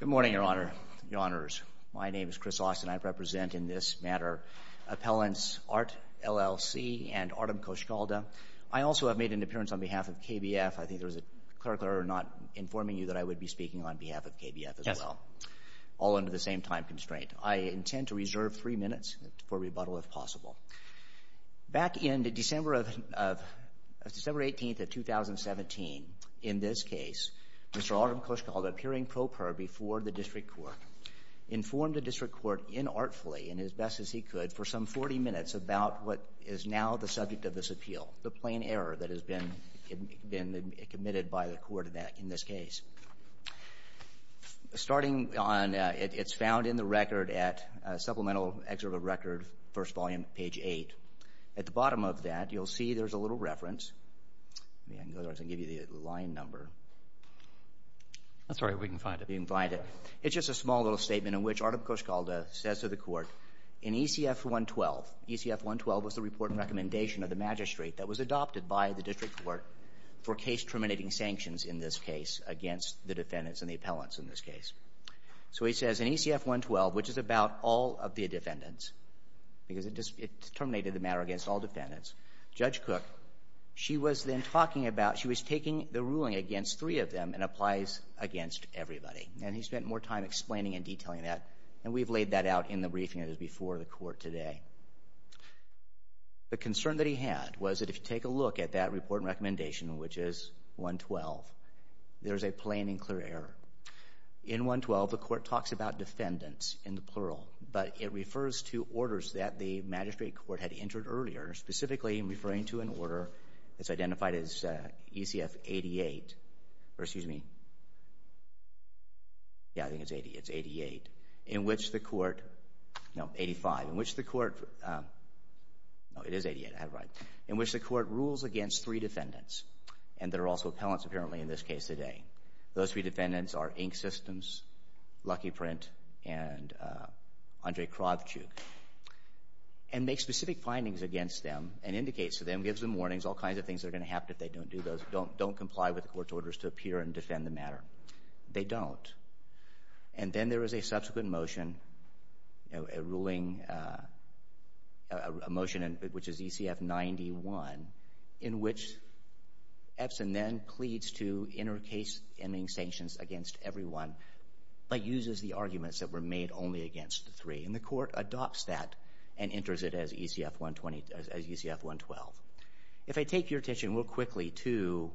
Good morning, Your Honor, Your Honors. My name is Chris Austin. I represent in this matter appellants Art LLC and Artem Koshkalda. I also have made an appearance on behalf of KBF. I think there was a clerk there not informing you that I would be speaking on behalf of KBF as well, all under the same time constraint. I intend to reserve three minutes for rebuttal if possible. Back in December 18th of 2017, in this case, Mr. Artem Koshkalda, appearing pro per before the district court, informed the district court inartfully and as best as he could for some 40 minutes about what is now the subject of this appeal, the plain error that has been committed by the court in this case. Starting on, it's found in the record at Supplemental Excerpt of Record, first volume, page 8. At the bottom of that, you'll see there's a little reference. I can give you the line number. I'm sorry, we can find it. We can find it. It's just a small little statement in which Artem Koshkalda says to the court, in ECF 112, ECF 112 was the report and recommendation of the magistrate that was adopted by the district court for case terminating sanctions in this case against the defendants and the appellants in this case. So he says, in ECF 112, which is about all of the defendants, because it terminated the matter against all defendants, Judge Cook, she was then talking about, she was taking the ruling against three of them and applies against everybody. And he spent more time explaining and detailing that, and we've laid that out in the briefing that is before the court today. The concern that he had was that if you take a look at that report and recommendation, which is 112, there's a plain and clear error. In 112, the court talks about defendants in the plural, but it refers to orders that the magistrate court had entered earlier, specifically referring to an order that's identified as ECF 88, or excuse me, yeah, I think it's 88, in which the court, no, 85, in which the court, no, it is 88, I have it right, in which the court rules against three defendants, and there are also appellants apparently in this case today. Those three defendants are Inc. Systems, Lucky Print, and Andre Kravchuk, and makes specific findings against them and indicates to them, gives them warnings, all kinds of things that are going to happen if they don't do those, don't comply with the court's orders to appear and defend the matter. They don't. And then there is a subsequent motion, a ruling, a motion which is ECF 91, in which Epson then pleads to inter case ending sanctions against everyone, but uses the arguments that were made only against three, and the court adopts that and enters it as ECF 112. If I take your attention real quickly to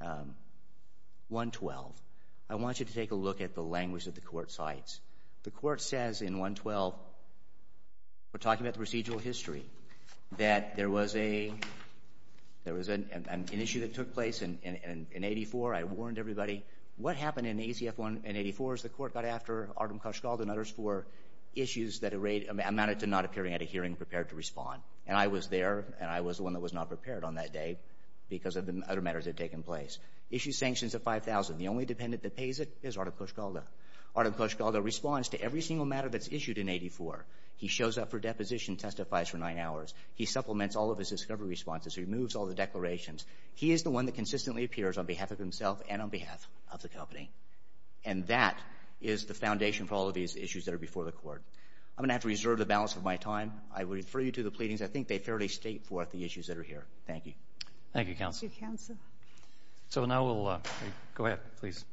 112, I want you to take a look at the language that the court cites. The court says in 112, we're talking about the procedural history, that there was an issue that took place in 84, I warned everybody, what happened in ECF 1 and 84 is the court got after Artem Koshkald and others for issues that amounted to not appearing at a hearing prepared to respond. And I was there, and I was the one that was not prepared on that day because of the other matters that had taken place. Issue sanctions at 5,000. The only defendant that pays it is Artem Koshkald. Artem Koshkald responds to every single matter that's issued in 84. He shows up for deposition, testifies for nine hours. He supplements all of his discovery responses. He removes all the declarations. He is the one that consistently appears on behalf of himself and on behalf of the company. And that is the foundation for all of these issues that are before the court. I'm going to have to reserve the balance of my time. I would refer you to the pleadings. I think they fairly state forth the issues that are here. Thank you. Thank you, counsel. So now we'll, go ahead, please.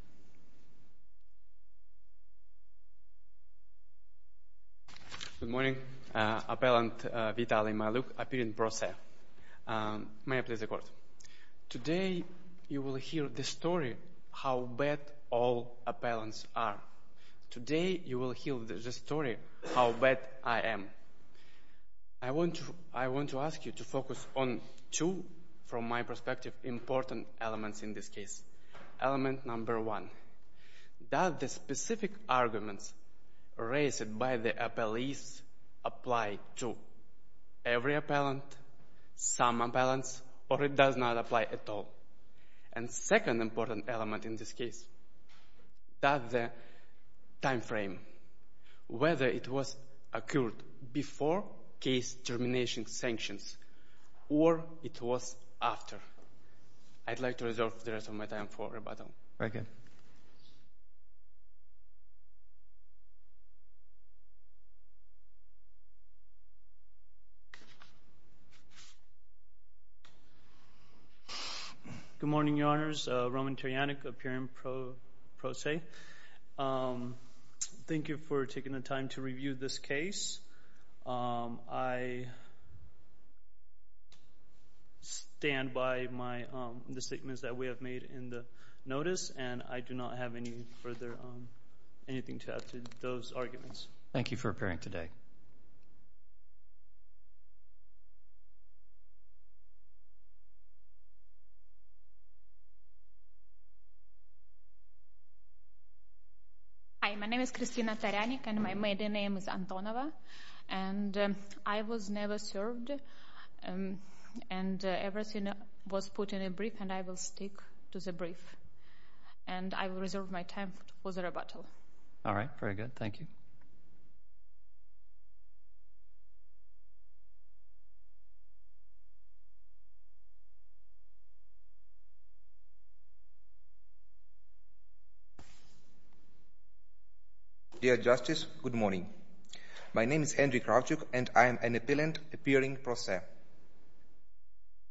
Good morning. Appellant Vitaly Maluk, Appeal in Pro Se. May I please the court? Today, you will hear the story how bad all appellants are. Today, you will hear the story how bad I am. I want to ask you to focus on two, from my perspective, important elements in this case. Element number one, does the specific arguments raised by the appellees apply to every appellant, some appellants, or it does not apply at all? And second important element in this case, does the time frame, whether it was occurred before case termination sanctions or it was after. I'd like to reserve the rest of my time for rebuttal. Good morning, your honors. Roman Terjanek, Appeal in Pro Se. Thank you for taking the time to review this case. I stand by my, the statements that we have made in the notice and I do not have any further, anything to add to those arguments. Thank you for appearing today. Hi, my name is Kristina Terjanek and my maiden name is Antonova and I was never served and everything was put in a brief and I will stick to the brief and I will reserve my time for rebuttal. All right, very good, thank you. Dear Justice, good morning. My name is Andriy Kravchuk and I am an appellant appearing Pro Se.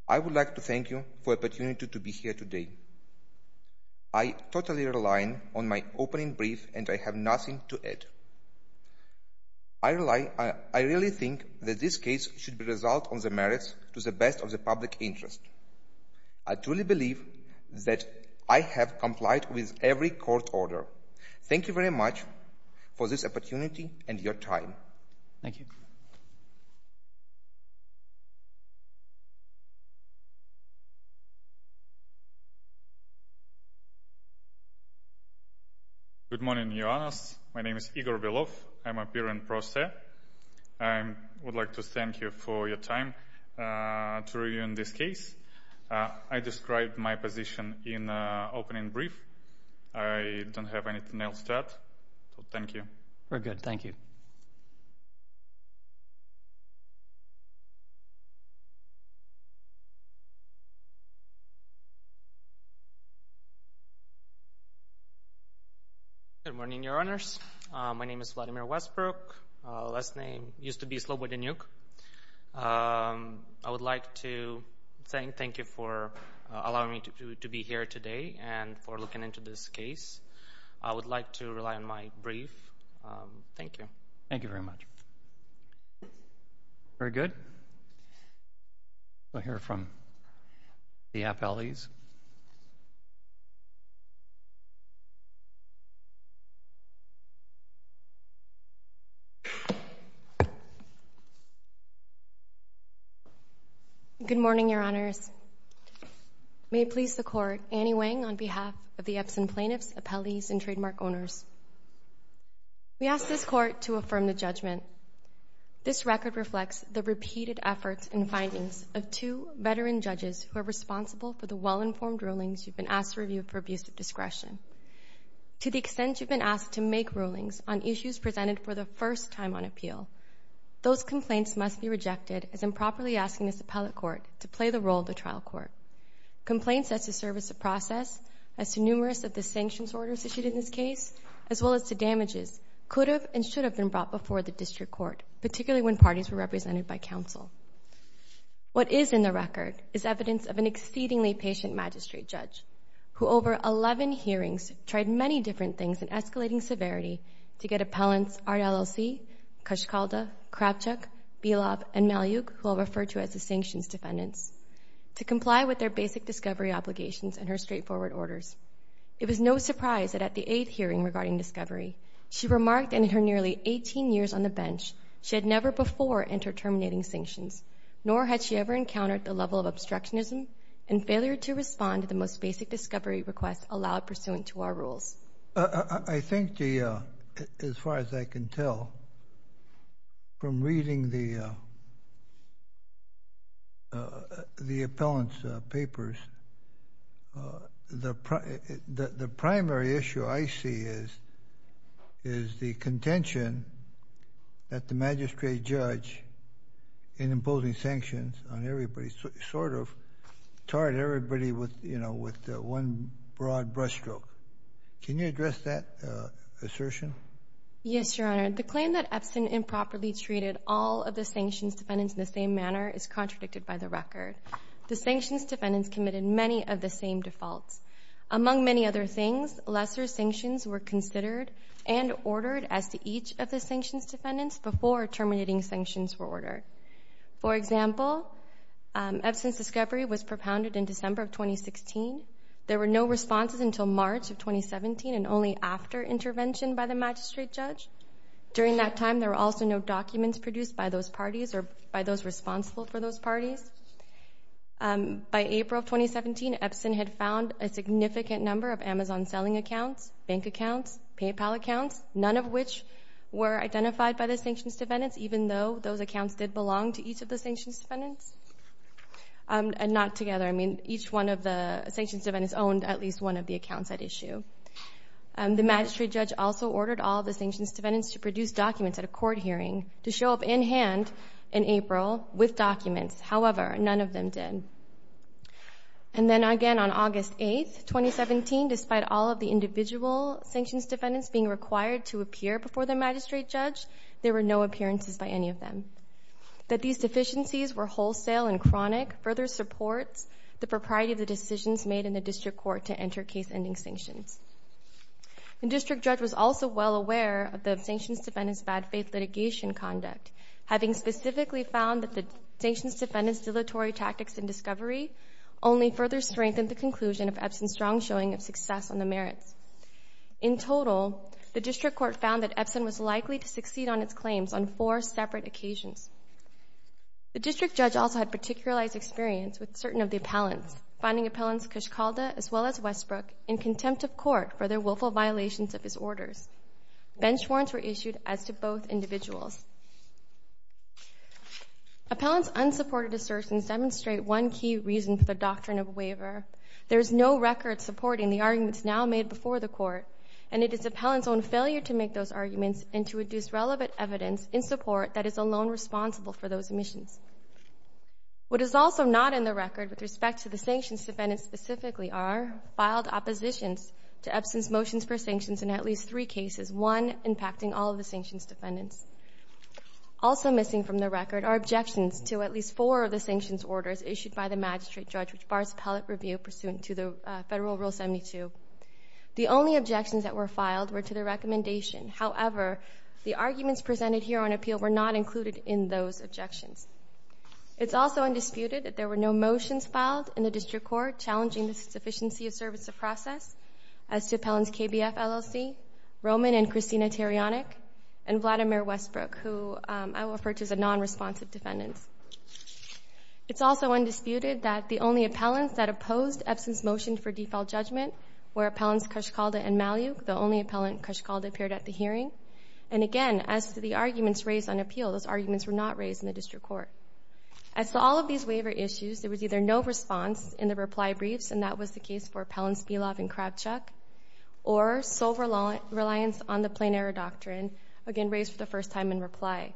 I would like to thank you for the opportunity to be here today. I totally rely on my opening brief and I have nothing to add. I really think that this case should result on the merits to the best of the public interest. I truly believe that I have complied with every court order. Thank you very much for this opportunity and your time. Good morning, Your Honours. My name is Igor Velov. I am an appearing Pro Se. I would like to thank you for your time to review this case. I described my position in the opening brief. I don't have anything else to add. Thank you. Good morning, Your Honours. My name is Vladimir Westbrook. My last name used to be Slobodanyuk. I would like to thank you for allowing me to be here today and for looking into this case. I would like to rely on my brief. Thank you. Good morning, Your Honours. May it please the Court, Annie Wang on behalf of the Epson Plaintiffs, Appellees and Trademark Owners. We ask this Court to affirm the judgment. This record reflects the repeated efforts and findings of two veteran judges who are responsible for the well-informed rulings you've been asked to review for abuse of discretion. To the extent you've been asked to make rulings on issues presented for the first time on appeal, those complaints must be rejected as improperly asking this appellate court to play the role of the trial court. Complaints that serve as a process as to numerous of the sanctions orders issued in this case, as well as to damages, could have and should have been brought before the District Court, particularly when parties were represented by counsel. What is in the record is evidence of an exceedingly patient magistrate judge who over 11 hearings tried many different things in escalating severity to get appellants R. L. L. C., Kashkalda, Kravchuk, Bilob, and Malyuk, who I'll refer to as the sanctions defendants, to comply with their basic discovery obligations and her straightforward orders. It was no surprise that at the eighth hearing regarding discovery, she remarked in her nearly 18 years on the bench she had never before entered terminating sanctions, nor had she ever encountered the level of obstructionism and failure to respond to the most basic discovery requests allowed pursuant to our rules. I think the, as far as I can tell, from reading the appellant's papers, the primary issue I see is, is the contention that the magistrate judge, in imposing sanctions on everybody, sort of tarred everybody with, you know, with one broad brush stroke. Can you address that assertion? Yes, Your Honor. The claim that Epstein improperly treated all of the sanctions defendants in the same manner is contradicted by the record. The sanctions defendants committed many of the same defaults. Among many other things, lesser sanctions were considered and ordered as to each of the sanctions defendants before terminating sanctions were ordered. For example, Epstein's discovery was propounded in December of 2016. There were no responses until March of 2017 and only after intervention by the magistrate judge. During that time, there were also no documents produced by those parties or by those responsible for those In March of 2017, Epstein had found a significant number of Amazon selling accounts, bank accounts, PayPal accounts, none of which were identified by the sanctions defendants, even though those accounts did belong to each of the sanctions defendants, and not together. I mean, each one of the sanctions defendants owned at least one of the accounts at issue. The magistrate judge also ordered all the sanctions defendants to produce documents at a court hearing to However, none of them did. And then again on August 8th, 2017, despite all of the individual sanctions defendants being required to appear before the magistrate judge, there were no appearances by any of them. That these deficiencies were wholesale and chronic further supports the propriety of the decisions made in the district court to enter case-ending sanctions. The district judge was also well aware of the sanctions defendants' bad faith litigation conduct, having specifically found that the sanctions defendants' dilatory tactics in discovery only further strengthened the conclusion of Epstein's strong showing of success on the merits. In total, the district court found that Epstein was likely to succeed on its claims on four separate occasions. The district judge also had particularized experience with certain of the appellants, finding Appellants Cushcalda as well as Westbrook in contempt of court for their willful violations of his orders. Bench warrants were issued as to both individuals. Appellants' unsupported assertions demonstrate one key reason for the doctrine of a waiver. There is no record supporting the arguments now made before the court, and it is Appellants' own failure to make those arguments and to reduce relevant evidence in support that is alone responsible for those omissions. What is also not in the record with respect to the sanctions defendants specifically are filed oppositions to Epstein's motions for sanctions in at least three cases, one impacting all of the sanctions defendants. Also missing from the record are objections to at least four of the sanctions orders issued by the magistrate judge, which bars appellate review pursuant to the Federal Rule 72. The only objections that were filed were to the recommendation. However, the arguments presented here on appeal were not included in those objections. It's also undisputed that there were no motions filed in the district court challenging the sufficiency of service of Roman and Christina Tarionic, and Vladimir Westbrook, who I will refer to as a nonresponsive defendant. It's also undisputed that the only appellants that opposed Epstein's motion for default judgment were Appellants Kushkalda and Malyuk. The only Appellant Kushkalda appeared at the hearing. And again, as to the arguments raised on appeal, those arguments were not raised in the district court. As to all of these waiver issues, there was either no response in the reply briefs, and that was the case for Appellants Belov and Kravchuk, or sole reliance on the plain error doctrine, again raised for the first time in reply.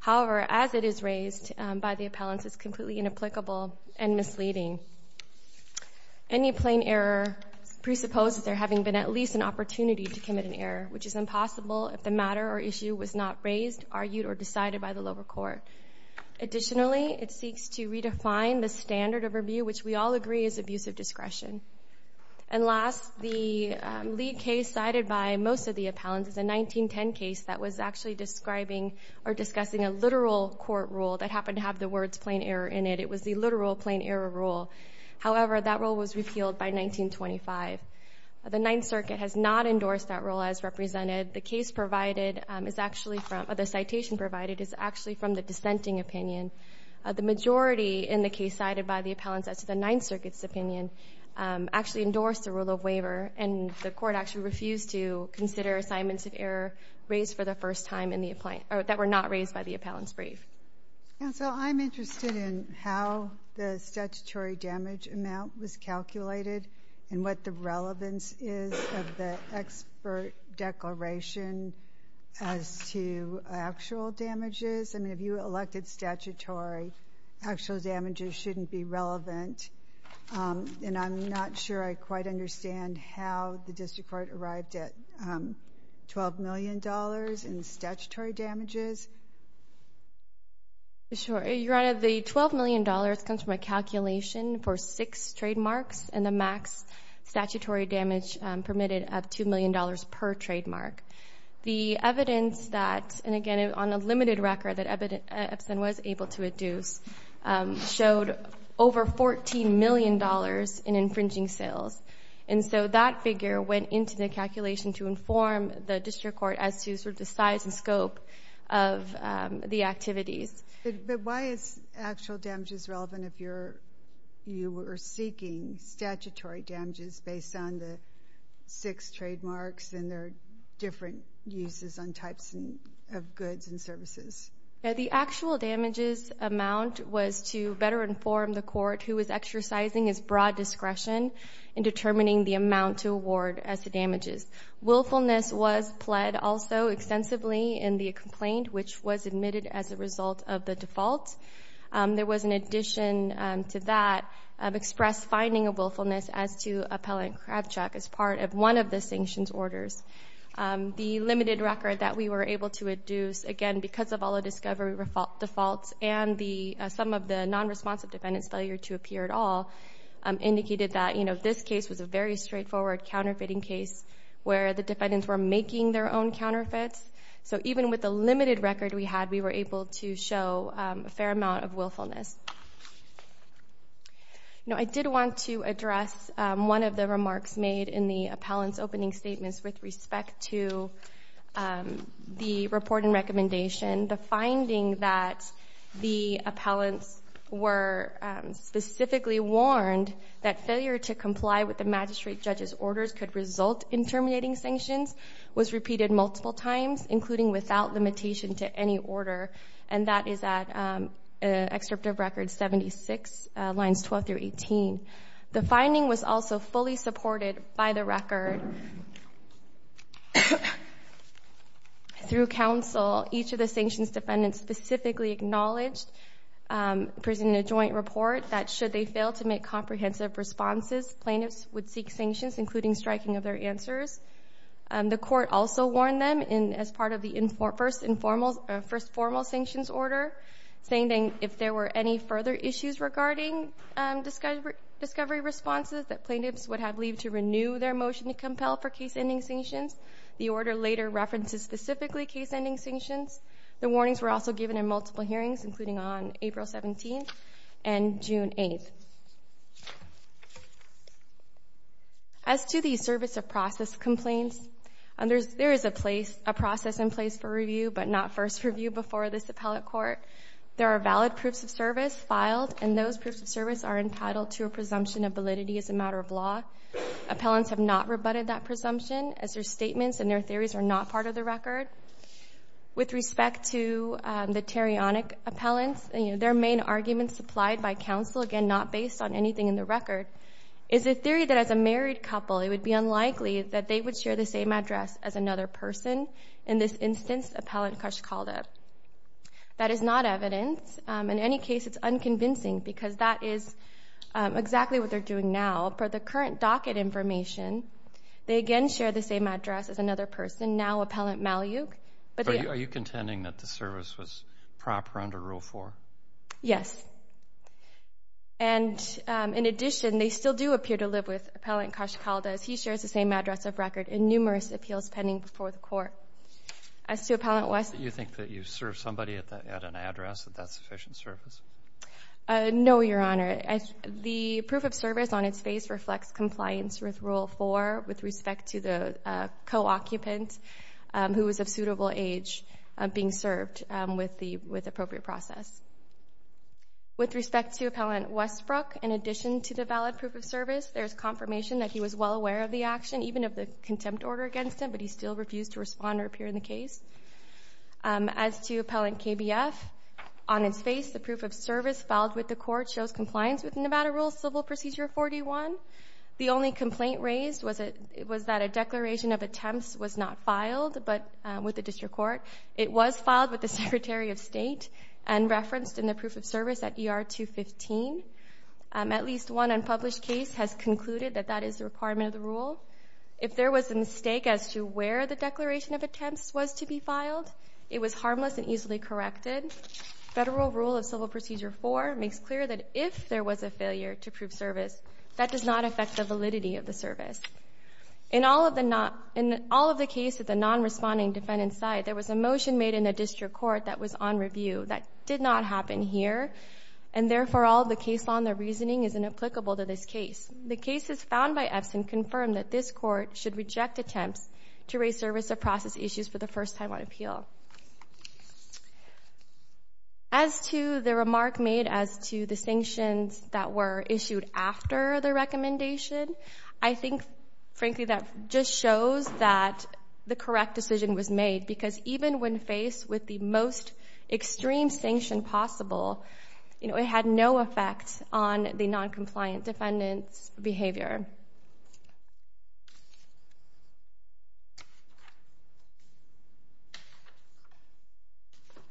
However, as it is raised by the appellants, it's completely inapplicable and misleading. Any plain error presupposes there having been at least an opportunity to commit an error, which is impossible if the matter or issue was not raised, argued, or decided by the lower court. Additionally, it seeks to redefine the standard of review, which we all agree is abusive discretion. And last, the lead case cited by most of the appellants is a 1910 case that was actually describing or discussing a literal court rule that happened to have the words plain error in it. It was the literal plain error rule. However, that rule was repealed by 1925. The Ninth Circuit has not endorsed that rule as represented. The case provided is actually from, or the citation provided is actually from the dissenting opinion. The majority in the case cited by the appellants as to the Ninth Circuit's opinion actually endorsed the rule of waiver, and the court actually refused to consider assignments of error raised for the first time in the, or that were not raised by the appellants' brief. Counsel, I'm interested in how the statutory damage amount was calculated and what the actual damages. I mean, if you elected statutory, actual damages shouldn't be relevant. And I'm not sure I quite understand how the district court arrived at $12 million in statutory damages. Sure. Your Honor, the $12 million comes from a calculation for six trademarks and the max statutory damage permitted of $2 million per trademark. The evidence that, and again on a limited record that Epson was able to deduce, showed over $14 million in infringing sales. And so that figure went into the calculation to inform the district court as to sort of the size and scope of the activities. But why is actual damages relevant if you were seeking statutory damages based on the six trademarks and their different uses on types of goods and services? The actual damages amount was to better inform the court who was exercising its broad discretion in determining the amount to award as the damages. Willfulness was pled also extensively in the complaint, which was admitted as a result of the default. There was an addition to that of express finding of willfulness as to appellant Kravchuk as part of one of the sanctions orders. The limited record that we were able to deduce, again because of all the discovery defaults and some of the non-responsive defendants failure to appear at all, indicated that this case was a very straightforward counterfeiting case where the defendants were making their own counterfeits. So even with the limited record we had, we were able to show a fair amount of willfulness. Now, I did want to address one of the remarks made in the appellant's opening statements with respect to the report and recommendation. The finding that the appellants were specifically warned that failure to comply with the magistrate judge's orders could result in terminating the sanctions was repeated multiple times, including without limitation to any order, and that is at Excerpt of Record 76, lines 12 through 18. The finding was also fully supported by the record. Through counsel, each of the sanctions defendants specifically acknowledged, presented a joint report that should they fail to make comprehensive responses, plaintiffs would seek sanctions, including striking of their answers. The court also warned them as part of the first formal sanctions order, saying that if there were any further issues regarding discovery responses, that plaintiffs would have leave to renew their motion to compel for case-ending sanctions. The order later references specifically case-ending sanctions. The warnings were also given in multiple hearings, including on April 17 and June 8. As to the service of process complaints, there is a process in place for review, but not first review before this appellate court. There are valid proofs of service filed, and those proofs of service are entitled to a presumption of validity as a matter of law. Appellants have not rebutted that presumption, as their statements and their theories are not part of the record. With respect to the tarionic appellants, their main arguments supplied by counsel, again not based on anything in the record, is the theory that as a married couple it would be unlikely that they would share the same address as another person. In this instance, Appellant Kush called it. That is not evidence. In any case, it's unconvincing because that is exactly what they're doing now. Per the current docket information, they again share the same address as another person, now Appellant Malyuk. But are you contending that the service was proper under Rule 4? Yes. And in addition, they still do appear to live with Appellant Kush called as he shares the same address of record in numerous appeals pending before the Court. As to Appellant West... Do you think that you served somebody at an address, that that's sufficient service? No, Your Honor. The proof of service on its face reflects compliance with Rule 4 with respect to the co-occupant who was of suitable age being served with the appropriate process. With respect to Appellant Westbrook, in addition to the valid proof of service, there's confirmation that he was well aware of the action, even of the contempt order against him, but he still refused to respond or appear in the case. As to Appellant KBF, on its face, the proof of service filed with the Court shows compliance with Nevada Rules Civil Procedure 41. The only complaint raised was that a declaration of attempts was not referenced in the proof of service at ER 215. At least one unpublished case has concluded that that is the requirement of the rule. If there was a mistake as to where the declaration of attempts was to be filed, it was harmless and easily corrected. Federal Rule of Civil Procedure 4 makes clear that if there was a failure to prove service, that does not affect the validity of the service. In all of the case at the non-responding defendant's case, there was a motion made in the District Court that was on review. That did not happen here and, therefore, all of the case law and the reasoning is inapplicable to this case. The cases found by Epson confirm that this Court should reject attempts to raise service of process issues for the first time on appeal. As to the remark made as to the sanctions that were issued after the recommendation, I think, frankly, that just shows that the decision when faced with the most extreme sanction possible, you know, it had no effect on the non-compliant defendant's behavior.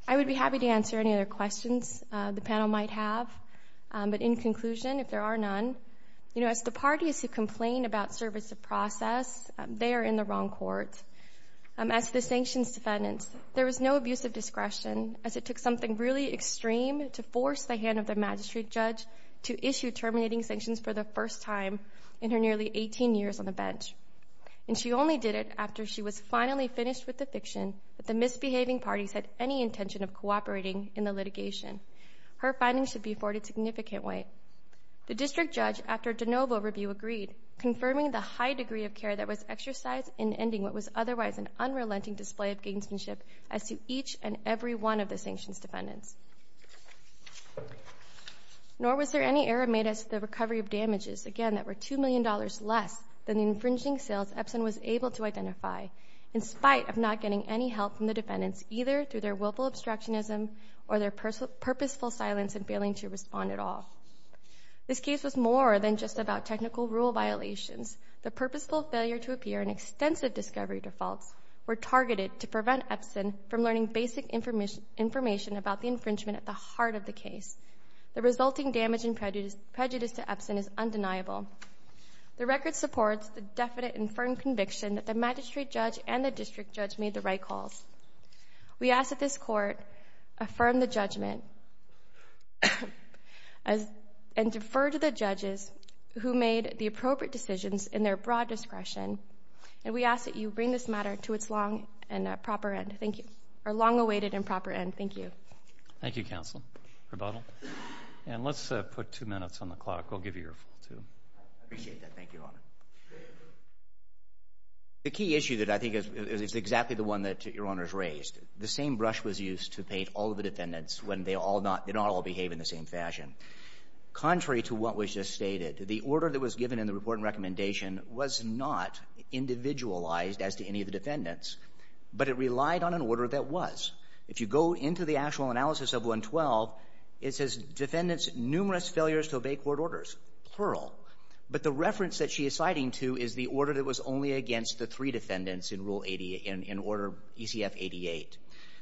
I would be happy to answer any other questions the panel might have, but in conclusion, if there are none, you know, as the parties who have issued the sanctions, there was no abuse of discretion as it took something really extreme to force the hand of the magistrate judge to issue terminating sanctions for the first time in her nearly 18 years on the bench. And she only did it after she was finally finished with the fiction that the misbehaving parties had any intention of cooperating in the litigation. Her findings should be afforded significant weight. The district judge, after de novo review, agreed, confirming the high degree of care that was exercised in ending what was otherwise an unrelenting display of gamesmanship as to each and every one of the sanctions defendants. Nor was there any error made as to the recovery of damages, again, that were $2 million less than the infringing sales Epson was able to identify, in spite of not getting any help from the defendants, either through their willful obstructionism or their purposeful silence and failing to respond at all. This case was more than just about technical rule violations. The purposeful failure to appear in extensive discovery defaults were targeted to prevent Epson from learning basic information about the infringement at the heart of the case. The resulting damage and prejudice to Epson is undeniable. The record supports the definite and firm conviction that the magistrate judge and the district judge made the right calls. We ask that this court affirm the judgment and defer to the who made the appropriate decisions in their broad discretion, and we ask that you bring this matter to its long and proper end. Thank you. Our long-awaited and proper end. Thank you. Thank you, counsel. Rebuttal. And let's put two minutes on the clock. We'll give you your full two. I appreciate that. Thank you, Your Honor. The key issue that I think is exactly the one that Your Honor has raised, the same brush was used to paint all of the defendants when they all did not all behave in the same fashion. Contrary to what was just stated, the order that was given in the report and recommendation was not individualized as to any of the defendants, but it relied on an order that was. If you go into the actual analysis of 112, it says defendants numerous failures to obey court orders. Plural. But the reference that she is citing to is the order that was only against the three defendants in order ECF 88.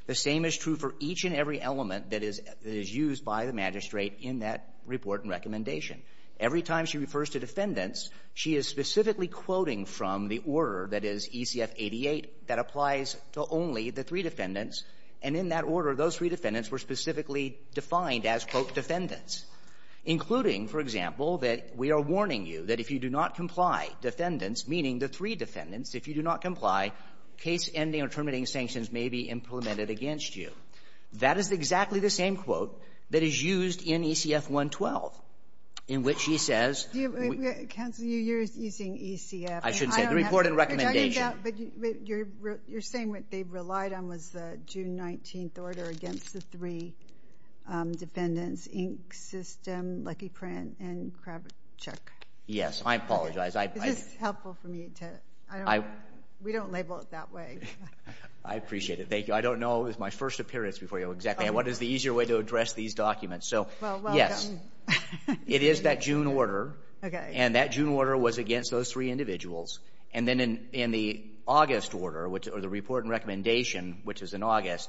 The same is true for each and every element that is used by the magistrate in that report and recommendation. Every time she refers to defendants, she is specifically quoting from the order that is ECF 88 that applies to only the three defendants. And in that order, those three defendants were specifically defined as, quote, defendants, including, for example, that we are warning you that if you do not comply, defendants, meaning the three defendants, if you do not comply, case-ending or terminating sanctions may be implemented against you. That is exactly the same quote that is used in ECF 112, in which she says — Counsel, you're using ECF — I should say the report and recommendation. But you're saying what they relied on was the June 19th order against the three defendants, Inc. System, Lucky Print, and Kravachuk. Yes. I apologize. I — We don't label it that way. I appreciate it. Thank you. I don't know. It was my first appearance before you. Exactly. What is the easier way to address these documents? Well, well done. Yes. It is that June order. Okay. And that June order was against those three individuals. And then in the August order, or the report and recommendation, which is in August,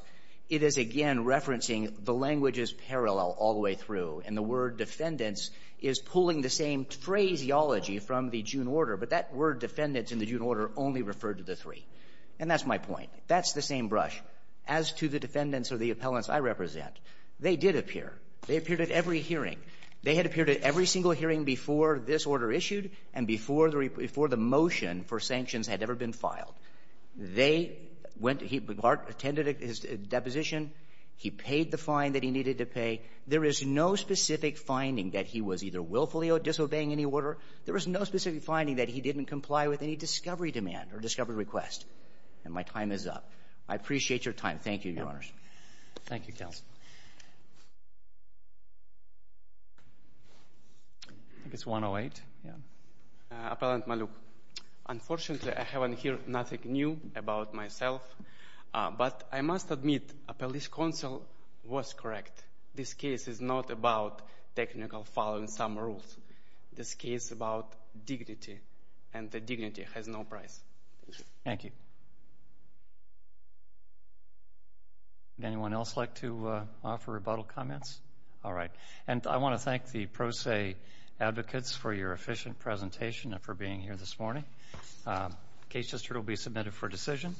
it is again referencing the languages parallel all the way through. And the word defendants is pulling the same phraseology from the June order, but that word defendants in the June order only referred to the three. And that's my point. That's the same brush. As to the defendants or the appellants I represent, they did appear. They appeared at every hearing. They had appeared at every single hearing before this order issued and before the motion for sanctions had ever been filed. They went — he attended his deposition. He paid the fine that he needed to pay. There is no specific finding that he was either willfully disobeying any order. There is no specific finding that he didn't comply with any discovery demand or discovery request. And my time is up. I appreciate your time. Thank you, Your Honors. Thank you, Counsel. I think it's 108. Appellant Maluk. Unfortunately, I haven't heard nothing new about myself. But I must admit a police counsel was correct. This case is not about technical following some rules. This case is about dignity. And the dignity has no price. Thank you. Would anyone else like to offer rebuttal comments? All right. And I want to thank the pro se advocates for your efficient presentation and for being here this morning. The case just heard will be submitted for decision.